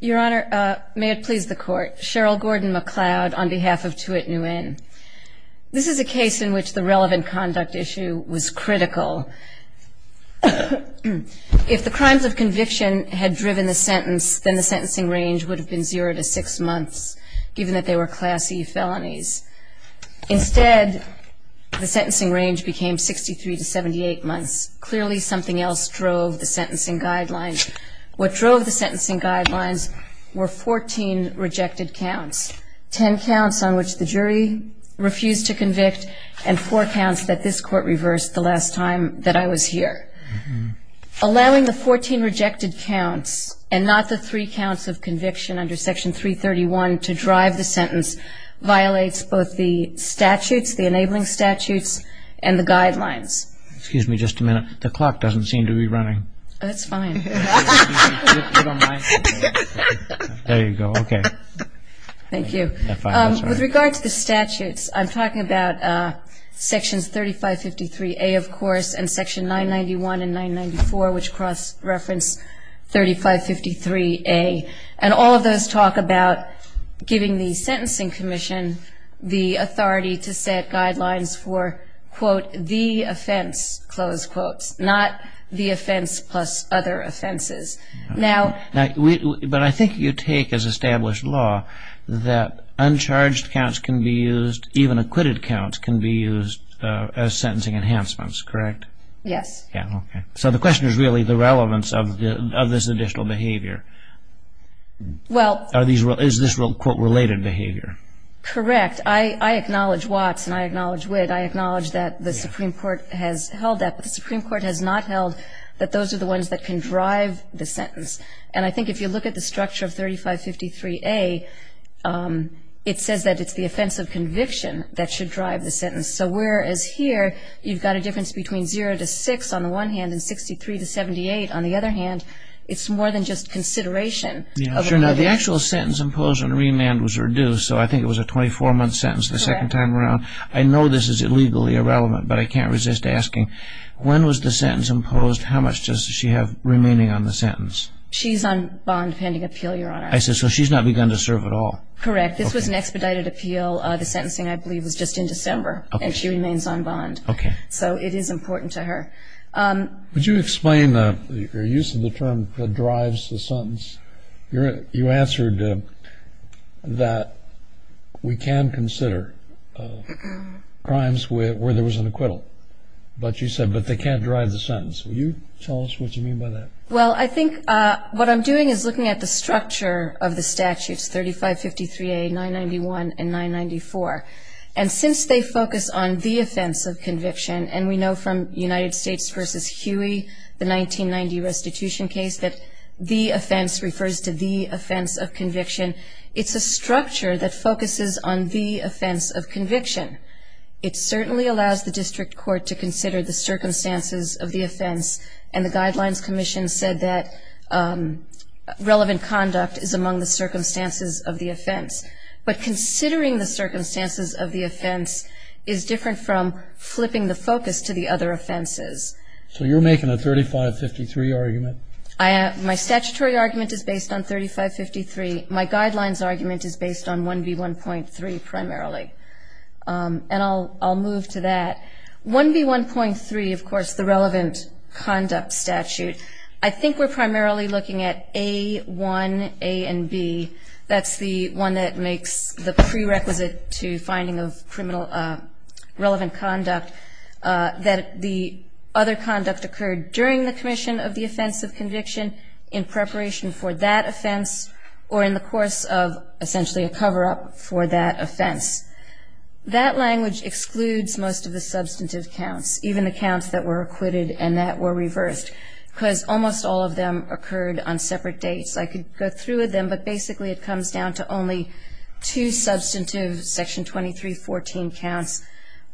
Your Honor, may it please the Court. Cheryl Gordon-McLeod on behalf of Tuyet Nguyen. This is a case in which the relevant conduct issue was critical. If the crimes of conviction had driven the sentence, then the sentencing range would have been zero to six months, given that they were Class E felonies. Instead, the sentencing range became 63 to 78 months. Clearly, something else drove the sentencing guidelines. What drove the sentencing guidelines were 14 rejected counts, 10 counts on which the jury refused to convict and four counts that this Court reversed the last time that I was here. Allowing the 14 rejected counts and not the three counts of conviction under Section 331 to drive the sentence violates both the statutes, the enabling statutes, and the guidelines. Excuse me just a minute. The clock doesn't seem to be running. That's fine. There you go. Okay. Thank you. With regard to the statutes, I'm talking about Sections 3553A, of course, and Section 991 and 994, which cross-reference 3553A. And all of those talk about giving the Sentencing Commission the authority to set guidelines for, quote, the offense, close quotes, not the offense plus other offenses. But I think you take as established law that uncharged counts can be used, even acquitted counts can be used as sentencing enhancements, correct? Yes. Okay. So the question is really the relevance of this additional behavior. Is this related behavior? Correct. I acknowledge Watts and I acknowledge Witt. I acknowledge that the Supreme Court has held that. But the Supreme Court has not held that those are the ones that can drive the sentence. And I think if you look at the structure of 3553A, it says that it's the offense of conviction that should drive the sentence. So whereas here you've got a difference between 0 to 6 on the one hand and 63 to 78 on the other hand, it's more than just consideration. The actual sentence imposed on remand was reduced, so I think it was a 24-month sentence the second time around. I know this is illegally irrelevant, but I can't resist asking, when was the sentence imposed, how much does she have remaining on the sentence? She's on bond pending appeal, Your Honor. I see. So she's not begun to serve at all. Correct. This was an expedited appeal. The sentencing, I believe, was just in December, and she remains on bond. Okay. So it is important to her. Would you explain your use of the term that drives the sentence? You answered that we can consider crimes where there was an acquittal. But you said, but they can't drive the sentence. Will you tell us what you mean by that? Well, I think what I'm doing is looking at the structure of the statutes, 3553A, 991, and 994. And since they focus on the offense of conviction, and we know from United States v. Huey, the 1990 restitution case, that the offense refers to the offense of conviction, it's a structure that focuses on the offense of conviction. It certainly allows the district court to consider the circumstances of the offense, and the Guidelines Commission said that relevant conduct is among the circumstances of the offense. But considering the circumstances of the offense is different from flipping the focus to the other offenses. So you're making a 3553 argument? My statutory argument is based on 3553. My guidelines argument is based on 1B1.3 primarily. And I'll move to that. 1B1.3, of course, the relevant conduct statute, I think we're primarily looking at A, 1, A, and B. That's the one that makes the prerequisite to finding of criminal relevant conduct that the other conduct occurred during the commission of the offense of conviction, in preparation for that offense, or in the course of essentially a cover-up for that offense. That language excludes most of the substantive counts, even the counts that were acquitted and that were reversed, because almost all of them occurred on separate dates. I could go through them, but basically it comes down to only two substantive Section 2314 counts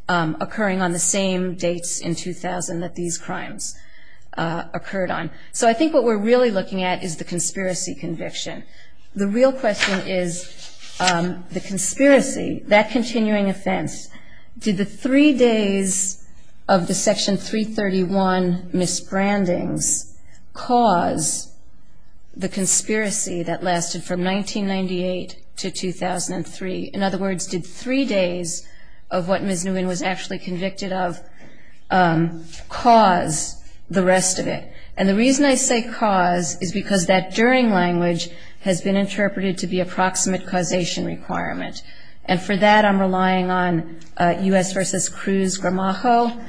occurring on the same dates in 2000 that these crimes occurred on. So I think what we're really looking at is the conspiracy conviction. The real question is the conspiracy, that continuing offense. Did the three days of the Section 331 misbrandings cause the conspiracy that lasted from 1998 to 2003? In other words, did three days of what Ms. Nguyen was actually convicted of cause the rest of it? And the reason I say cause is because that during language has been interpreted to be approximate causation requirement. And for that I'm relying on U.S. v. Cruz-Gramajo,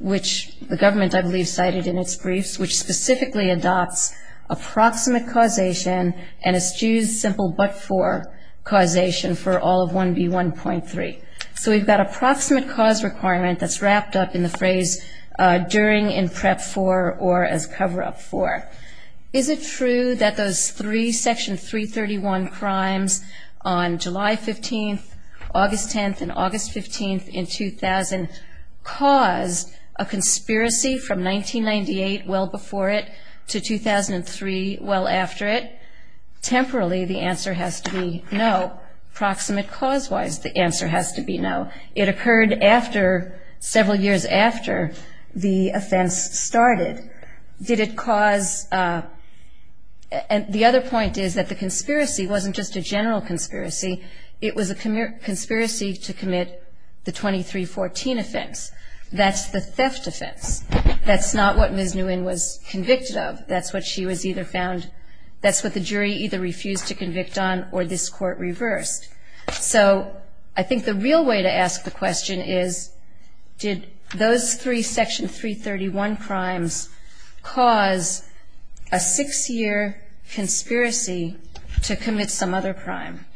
which the government, I believe, cited in its briefs, which specifically adopts approximate causation and eschews simple but-for causation for all of 1B1.3. So we've got approximate cause requirement that's wrapped up in the phrase during, in prep for, or as cover-up for. Is it true that those three Section 331 crimes on July 15th, August 10th, and August 15th in 2000 caused a conspiracy from 1998, well before it, to 2003, well after it? Temporally, the answer has to be no. Proximate cause-wise, the answer has to be no. It occurred after, several years after, the offense started. Did it cause, and the other point is that the conspiracy wasn't just a general conspiracy. It was a conspiracy to commit the 2314 offense. That's the theft offense. That's not what Ms. Nguyen was convicted of. That's what she was either found, that's what the jury either refused to convict on or this Court reversed. So I think the real way to ask the question is, did those three Section 331 crimes cause a six-year conspiracy to commit some other crime?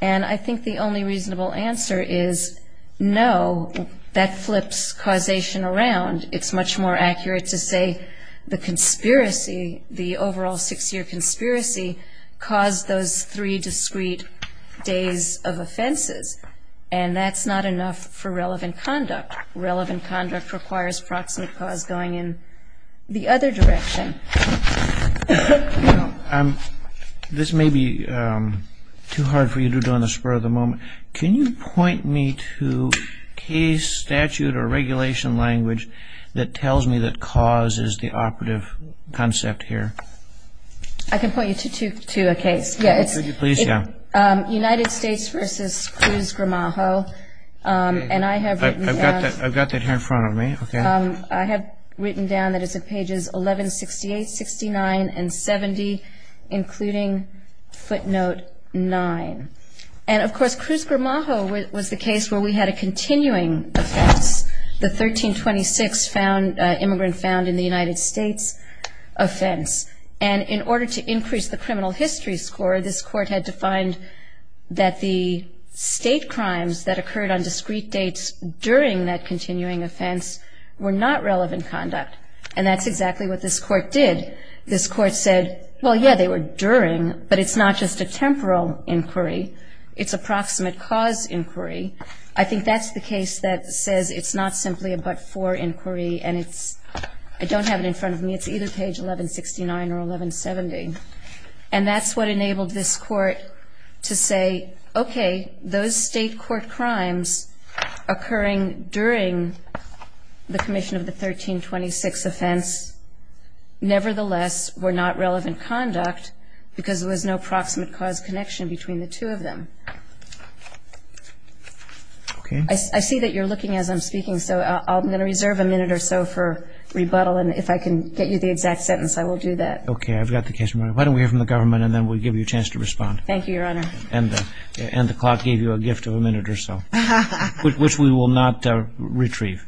And I think the only reasonable answer is no. That flips causation around. It's much more accurate to say the conspiracy, the overall six-year conspiracy, caused those three discrete days of offenses, and that's not enough for relevant conduct. Relevant conduct requires proximate cause going in the other direction. This may be too hard for you to do on the spur of the moment. Can you point me to case statute or regulation language that tells me that cause is the operative concept here? I can point you to a case. United States v. Cruz-Gramajo. I've got that here in front of me. I have written down that it's at pages 1168, 69, and 70, including footnote 9. And, of course, Cruz-Gramajo was the case where we had a continuing offense, the 1326 immigrant found in the United States offense. And in order to increase the criminal history score, this Court had defined that the state crimes that occurred on discrete dates during that continuing offense were not relevant conduct. And that's exactly what this Court did. This Court said, well, yeah, they were during, but it's not just a temporal inquiry. It's a proximate cause inquiry. I think that's the case that says it's not simply a but-for inquiry, and I don't have it in front of me. It's either page 1169 or 1170. And that's what enabled this Court to say, okay, those state court crimes occurring during the commission of the 1326 offense, nevertheless, were not relevant conduct because there was no proximate cause connection between the two of them. Okay. I see that you're looking as I'm speaking, so I'm going to reserve a minute or so for rebuttal, and if I can get you the exact sentence, I will do that. Okay. I've got the case in my hand. Why don't we hear from the government, and then we'll give you a chance to respond. Thank you, Your Honor. And the clock gave you a gift of a minute or so, which we will not retrieve.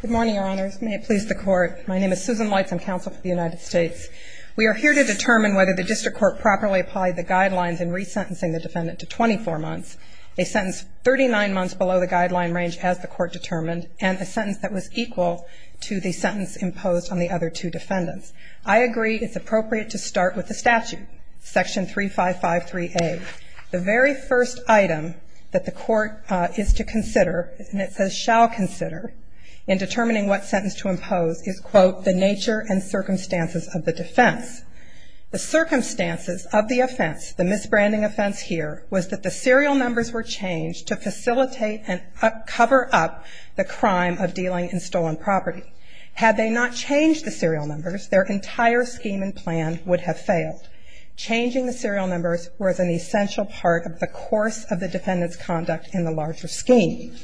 Good morning, Your Honors. May it please the Court. My name is Susan Weitz. I'm counsel for the United States. We are here to determine whether the district court properly applied the guidelines in resentencing the defendant to 24 months, a sentence 39 months below the guideline range as the court determined, and a sentence that was equal to the sentence imposed on the other two defendants. I agree it's appropriate to start with the statute, Section 3553A. The very first item that the court is to consider, and it says shall consider in determining what sentence to impose, is, quote, the nature and circumstances of the defense. The circumstances of the offense, the misbranding offense here, was that the serial numbers were changed to facilitate and cover up the crime of dealing in stolen property. Had they not changed the serial numbers, their entire scheme and plan would have failed. Changing the serial numbers was an essential part of the course of the defendant's conduct in the larger scheme.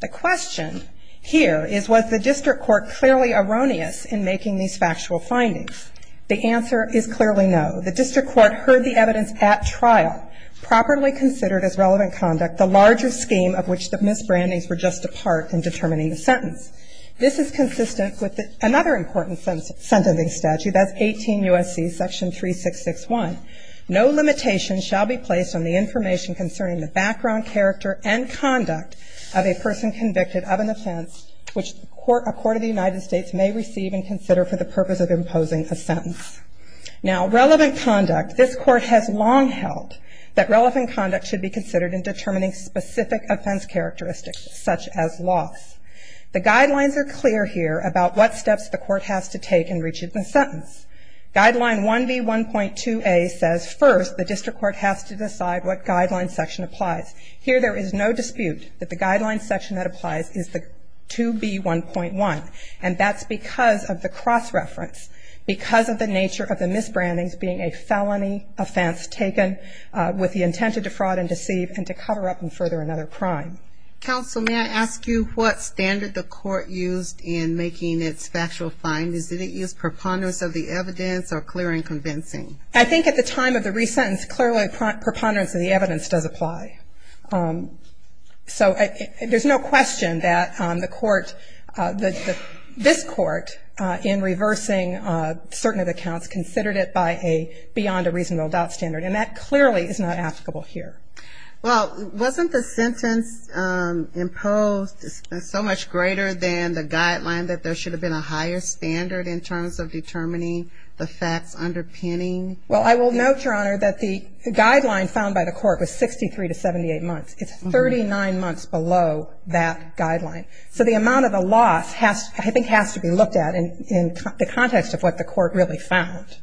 The question here is, was the district court clearly erroneous in making these factual findings? The answer is clearly no. The district court heard the evidence at trial, properly considered as relevant conduct, the larger scheme of which the misbrandings were just a part in determining the sentence. This is consistent with another important sentencing statute. That's 18 U.S.C. Section 3661. No limitation shall be placed on the information concerning the background, character, and conduct of a person convicted of an offense which a court of the United States may receive and consider for the purpose of imposing a sentence. Now, relevant conduct, this court has long held that relevant conduct should be considered in determining specific offense characteristics, such as loss. The guidelines are clear here about what steps the court has to take in reaching the sentence. Guideline 1B1.2a says first the district court has to decide what guideline section applies. Here there is no dispute that the guideline section that applies is the 2B1.1, and that's because of the cross-reference, because of the nature of the misbrandings being a felony offense taken with the intent to defraud and deceive and to cover up and further another crime. Counsel, may I ask you what standard the court used in making its factual findings? Did it use preponderance of the evidence or clear and convincing? I think at the time of the resentence, clearly preponderance of the evidence does apply. So there's no question that the court, this court, in reversing certain of the counts, considered it beyond a reasonable doubt standard, and that clearly is not applicable here. Well, wasn't the sentence imposed so much greater than the guideline that there should have been a higher standard in terms of determining the facts underpinning? Well, I will note, Your Honor, that the guideline found by the court was 63 to 78 months. It's 39 months below that guideline. So the amount of the loss I think has to be looked at in the context of what the court really found,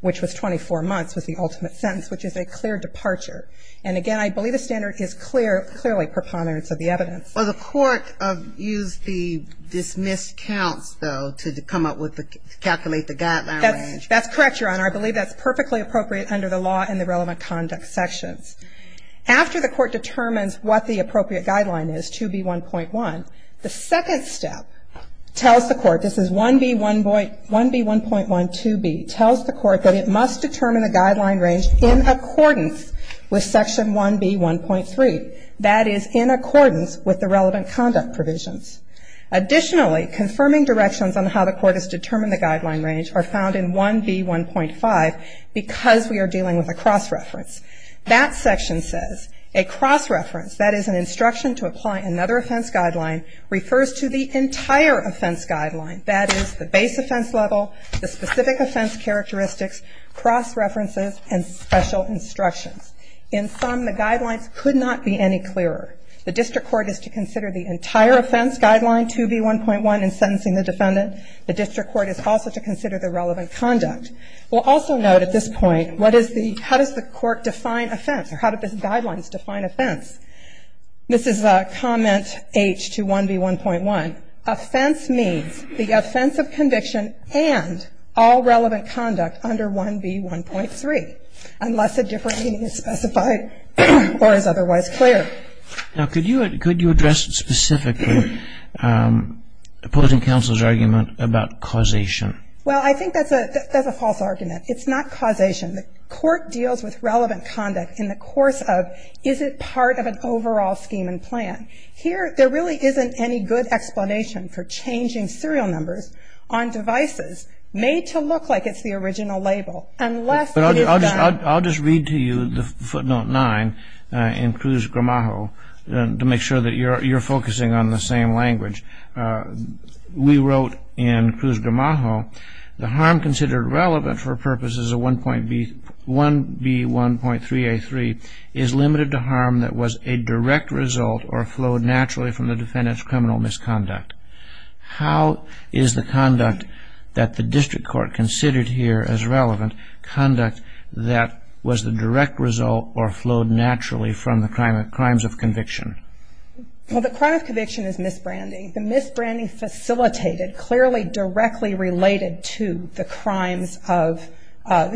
which was 24 months was the ultimate sentence, which is a clear departure. And again, I believe the standard is clearly preponderance of the evidence. Well, the court used the dismissed counts, though, to come up with the ‑‑ to calculate the guideline range. That's correct, Your Honor. I believe that's perfectly appropriate under the law and the relevant conduct sections. After the court determines what the appropriate guideline is, 2B1.1, the second step tells the court, this is 1B1.1 2B, tells the court that it must determine the guideline range in accordance with Section 1B1.3. That is, in accordance with the relevant conduct provisions. Additionally, confirming directions on how the court has determined the guideline range are found in 1B1.5 because we are dealing with a cross-reference. That section says, a cross-reference, that is an instruction to apply another offense guideline, refers to the entire offense guideline, that is, the base offense level, the specific offense characteristics, cross-references, and special instructions. In sum, the guidelines could not be any clearer. The district court is to consider the entire offense guideline, 2B1.1, in sentencing the defendant. The district court is also to consider the relevant conduct. We'll also note at this point, what is the ‑‑ how does the court define offense or how do the guidelines define offense? This is comment H to 1B1.1. Offense means the offense of conviction and all relevant conduct under 1B1.3, unless a different meaning is specified or is otherwise clear. Now, could you address specifically opposing counsel's argument about causation? Well, I think that's a false argument. It's not causation. The court deals with relevant conduct in the course of, is it part of an overall scheme and plan? Here, there really isn't any good explanation for changing serial numbers on devices made to look like it's the original label. I'll just read to you the footnote 9 in Cruz-Gramajo to make sure that you're focusing on the same language. We wrote in Cruz-Gramajo, the harm considered relevant for purposes of 1B1.3A3 is limited to harm that was a direct result or flowed naturally from the defendant's criminal misconduct. How is the conduct that the district court considered here as relevant conduct that was the direct result or flowed naturally from the crimes of conviction? Well, the crime of conviction is misbranding. The misbranding facilitated clearly directly related to the crimes of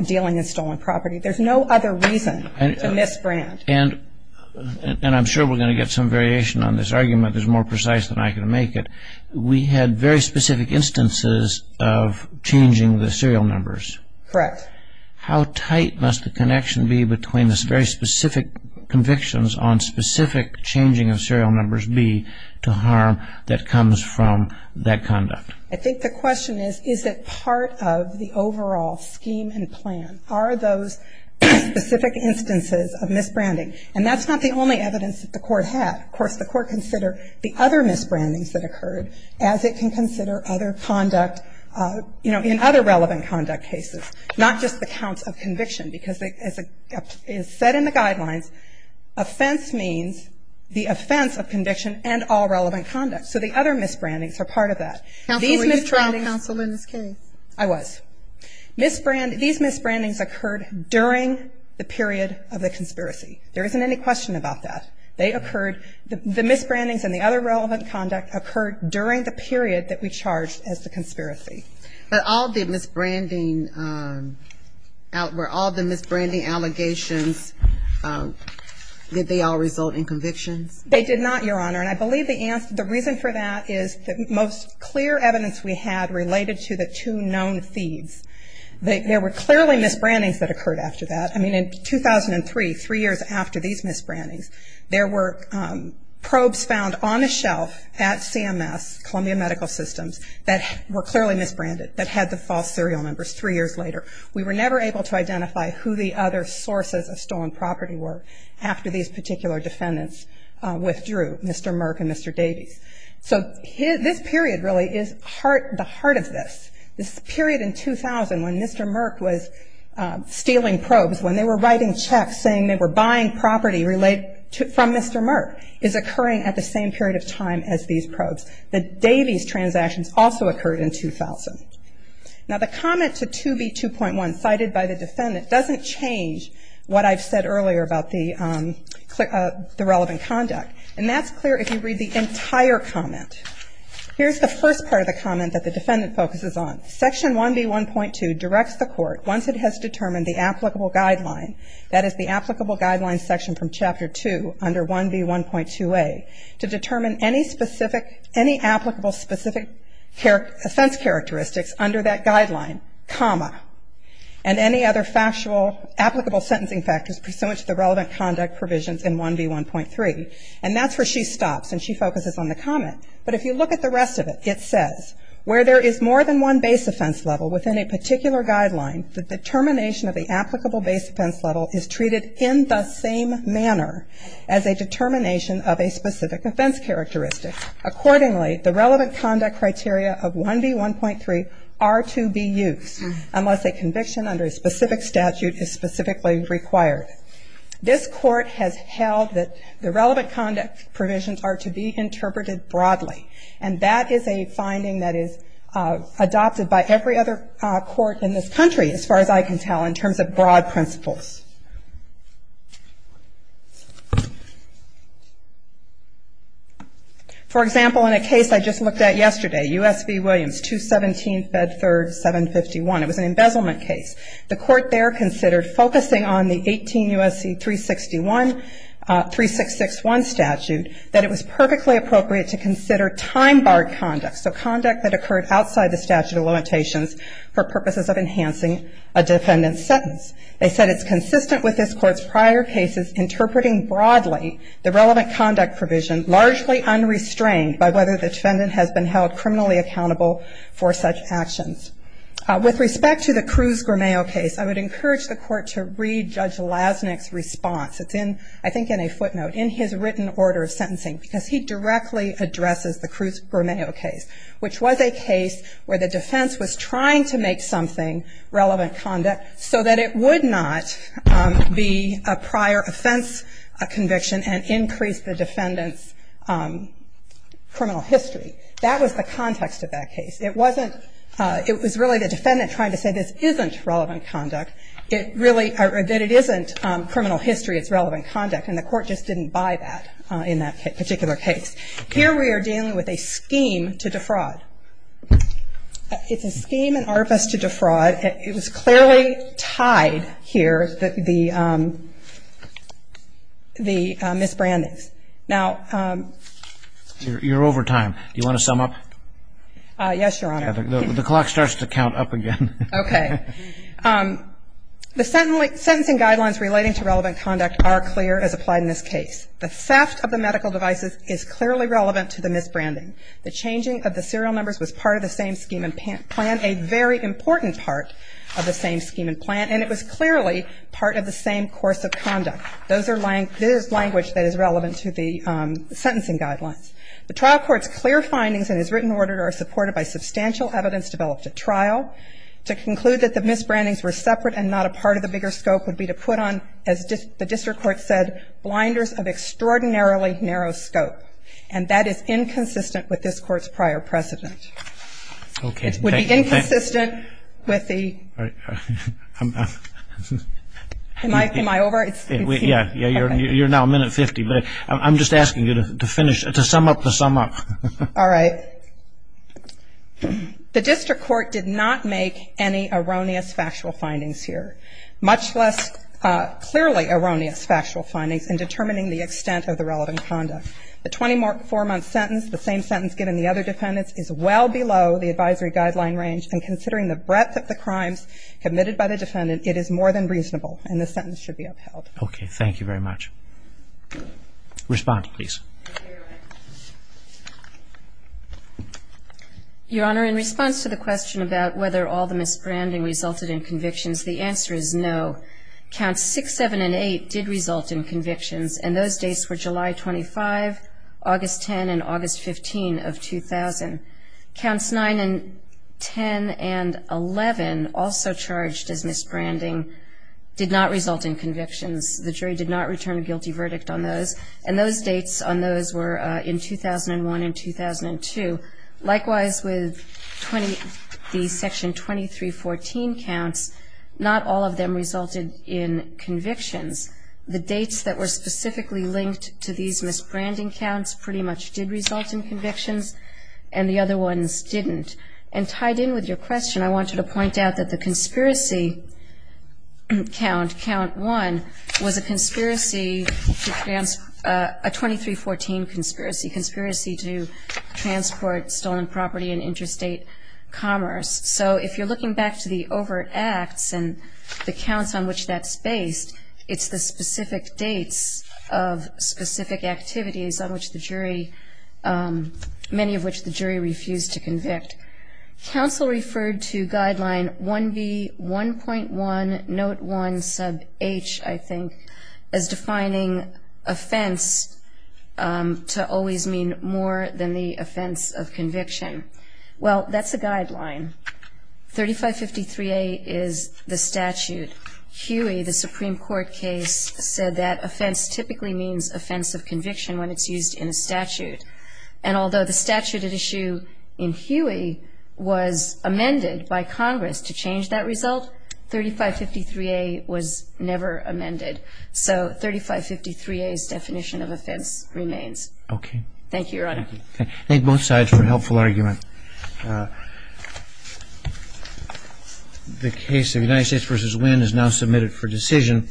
dealing in stolen property. There's no other reason to misbrand. And I'm sure we're going to get some variation on this argument that's more precise than I can make it. We had very specific instances of changing the serial numbers. Correct. How tight must the connection be between the very specific convictions on specific changing of serial numbers B to harm that comes from that conduct? I think the question is, is it part of the overall scheme and plan? Are those specific instances of misbranding? And that's not the only evidence that the court had. Of course, the court considered the other misbrandings that occurred as it can consider other conduct, you know, in other relevant conduct cases, not just the counts of conviction because it is set in the guidelines. Offense means the offense of conviction and all relevant conduct. So the other misbrandings are part of that. Counsel, were you trial counsel in this case? I was. Misbranding, these misbrandings occurred during the period of the conspiracy. There isn't any question about that. They occurred, the misbrandings and the other relevant conduct occurred during the period that we charged as the conspiracy. But all the misbranding, were all the misbranding allegations, did they all result in convictions? They did not, Your Honor. And I believe the reason for that is the most clear evidence we had related to the two known thieves. There were clearly misbrandings that occurred after that. I mean, in 2003, three years after these misbrandings, there were probes found on a shelf at CMS, Columbia Medical Systems, that were clearly misbranded, that had the false serial numbers three years later. We were never able to identify who the other sources of stolen property were after these particular defendants withdrew. Mr. Merck and Mr. Davies. So this period really is the heart of this. This period in 2000 when Mr. Merck was stealing probes, when they were writing checks saying they were buying property from Mr. Merck, is occurring at the same period of time as these probes. The Davies transactions also occurred in 2000. Now, the comment to 2B2.1 cited by the defendant doesn't change what I've said earlier about the relevant conduct. And that's clear if you read the entire comment. Here's the first part of the comment that the defendant focuses on. Section 1B1.2 directs the court, once it has determined the applicable guideline, that is the applicable guideline section from Chapter 2 under 1B1.2a, to determine any applicable specific offense characteristics under that guideline, comma, and any other applicable sentencing factors pursuant to the relevant conduct provisions in 1B1.3. And that's where she stops and she focuses on the comment. But if you look at the rest of it, it says, where there is more than one base offense level within a particular guideline, the determination of the applicable base offense level is treated in the same manner as a determination of a specific offense characteristic. Accordingly, the relevant conduct criteria of 1B1.3 are to be used, unless a conviction under a specific statute is specifically required. This court has held that the relevant conduct provisions are to be interpreted broadly. And that is a finding that is adopted by every other court in this country, as far as I can tell, in terms of broad principles. For example, in a case I just looked at yesterday, U.S. v. Williams, 217 Bedford 751, it was an embezzlement case. The court there considered, focusing on the 18 U.S.C. 361 statute, that it was perfectly appropriate to consider time-barred conduct, so conduct that occurred outside the statute of limitations for purposes of enhancing a defendant's sentence. They said it's consistent with this court's prior cases, interpreting broadly the relevant conduct provision, largely unrestrained by whether the defendant has been held criminally accountable for such actions. With respect to the Cruz-Gromeo case, I would encourage the court to read Judge Lasnik's response. It's in, I think, in a footnote, in his written order of sentencing, because he directly addresses the Cruz-Gromeo case, which was a case where the defense was trying to make something relevant conduct so that it would not be a prior offense conviction and increase the defendant's criminal history. That was the context of that case. It was really the defendant trying to say this isn't relevant conduct, that it isn't criminal history, it's relevant conduct, and the court just didn't buy that in that particular case. Here we are dealing with a scheme to defraud. It's a scheme and artifice to defraud. It was clearly tied here, the misbrandings. Now you're over time. Do you want to sum up? Yes, Your Honor. The clock starts to count up again. Okay. The sentencing guidelines relating to relevant conduct are clear as applied in this case. The theft of the medical devices is clearly relevant to the misbranding. The changing of the serial numbers was part of the same scheme and plan, a very important part of the same scheme and plan, and it was clearly part of the same course of conduct. This is language that is relevant to the sentencing guidelines. The trial court's clear findings in its written order are supported by substantial evidence developed at trial. To conclude that the misbrandings were separate and not a part of the bigger scope would be to put on, as the district court said, blinders of extraordinarily narrow scope, and that is inconsistent with this court's prior precedent. Okay. It would be inconsistent with the ñ am I over? Yeah, you're now a minute 50, but I'm just asking you to finish, to sum up the sum up. All right. The district court did not make any erroneous factual findings here, much less clearly erroneous factual findings in determining the extent of the relevant conduct. The 24-month sentence, the same sentence given the other defendants, is well below the advisory guideline range, and considering the breadth of the crimes committed by the defendant, it is more than reasonable, and this sentence should be upheld. Okay. Thank you very much. Respond, please. Your Honor, in response to the question about whether all the misbranding resulted in convictions, the answer is no. Counts 6, 7, and 8 did result in convictions, and those dates were July 25, August 10, and August 15 of 2000. Counts 9 and 10 and 11, also charged as misbranding, did not result in convictions. The jury did not return a guilty verdict on those, and those dates on those were in 2001 and 2002. Likewise, with the Section 2314 counts, not all of them resulted in convictions. The dates that were specifically linked to these misbranding counts pretty much did result in convictions, and the other ones didn't. And tied in with your question, I wanted to point out that the conspiracy count, count 1, was a conspiracy, a 2314 conspiracy, conspiracy to transport stolen property and interstate commerce. So if you're looking back to the overt acts and the counts on which that's based, it's the specific dates of specific activities on which the jury, many of which the jury refused to convict. Counsel referred to Guideline 1B1.1, Note 1, Sub H, I think, as defining offense to always mean more than the offense of conviction. Well, that's a guideline. 3553A is the statute. Huey, the Supreme Court case, said that offense typically means offense of conviction when it's used in a statute. And although the statute at issue in Huey was amended by Congress to change that result, 3553A was never amended. So 3553A's definition of offense remains. Okay. Thank you, Your Honor. Thank both sides for a helpful argument. The case of United States v. Wynn is now submitted for decision.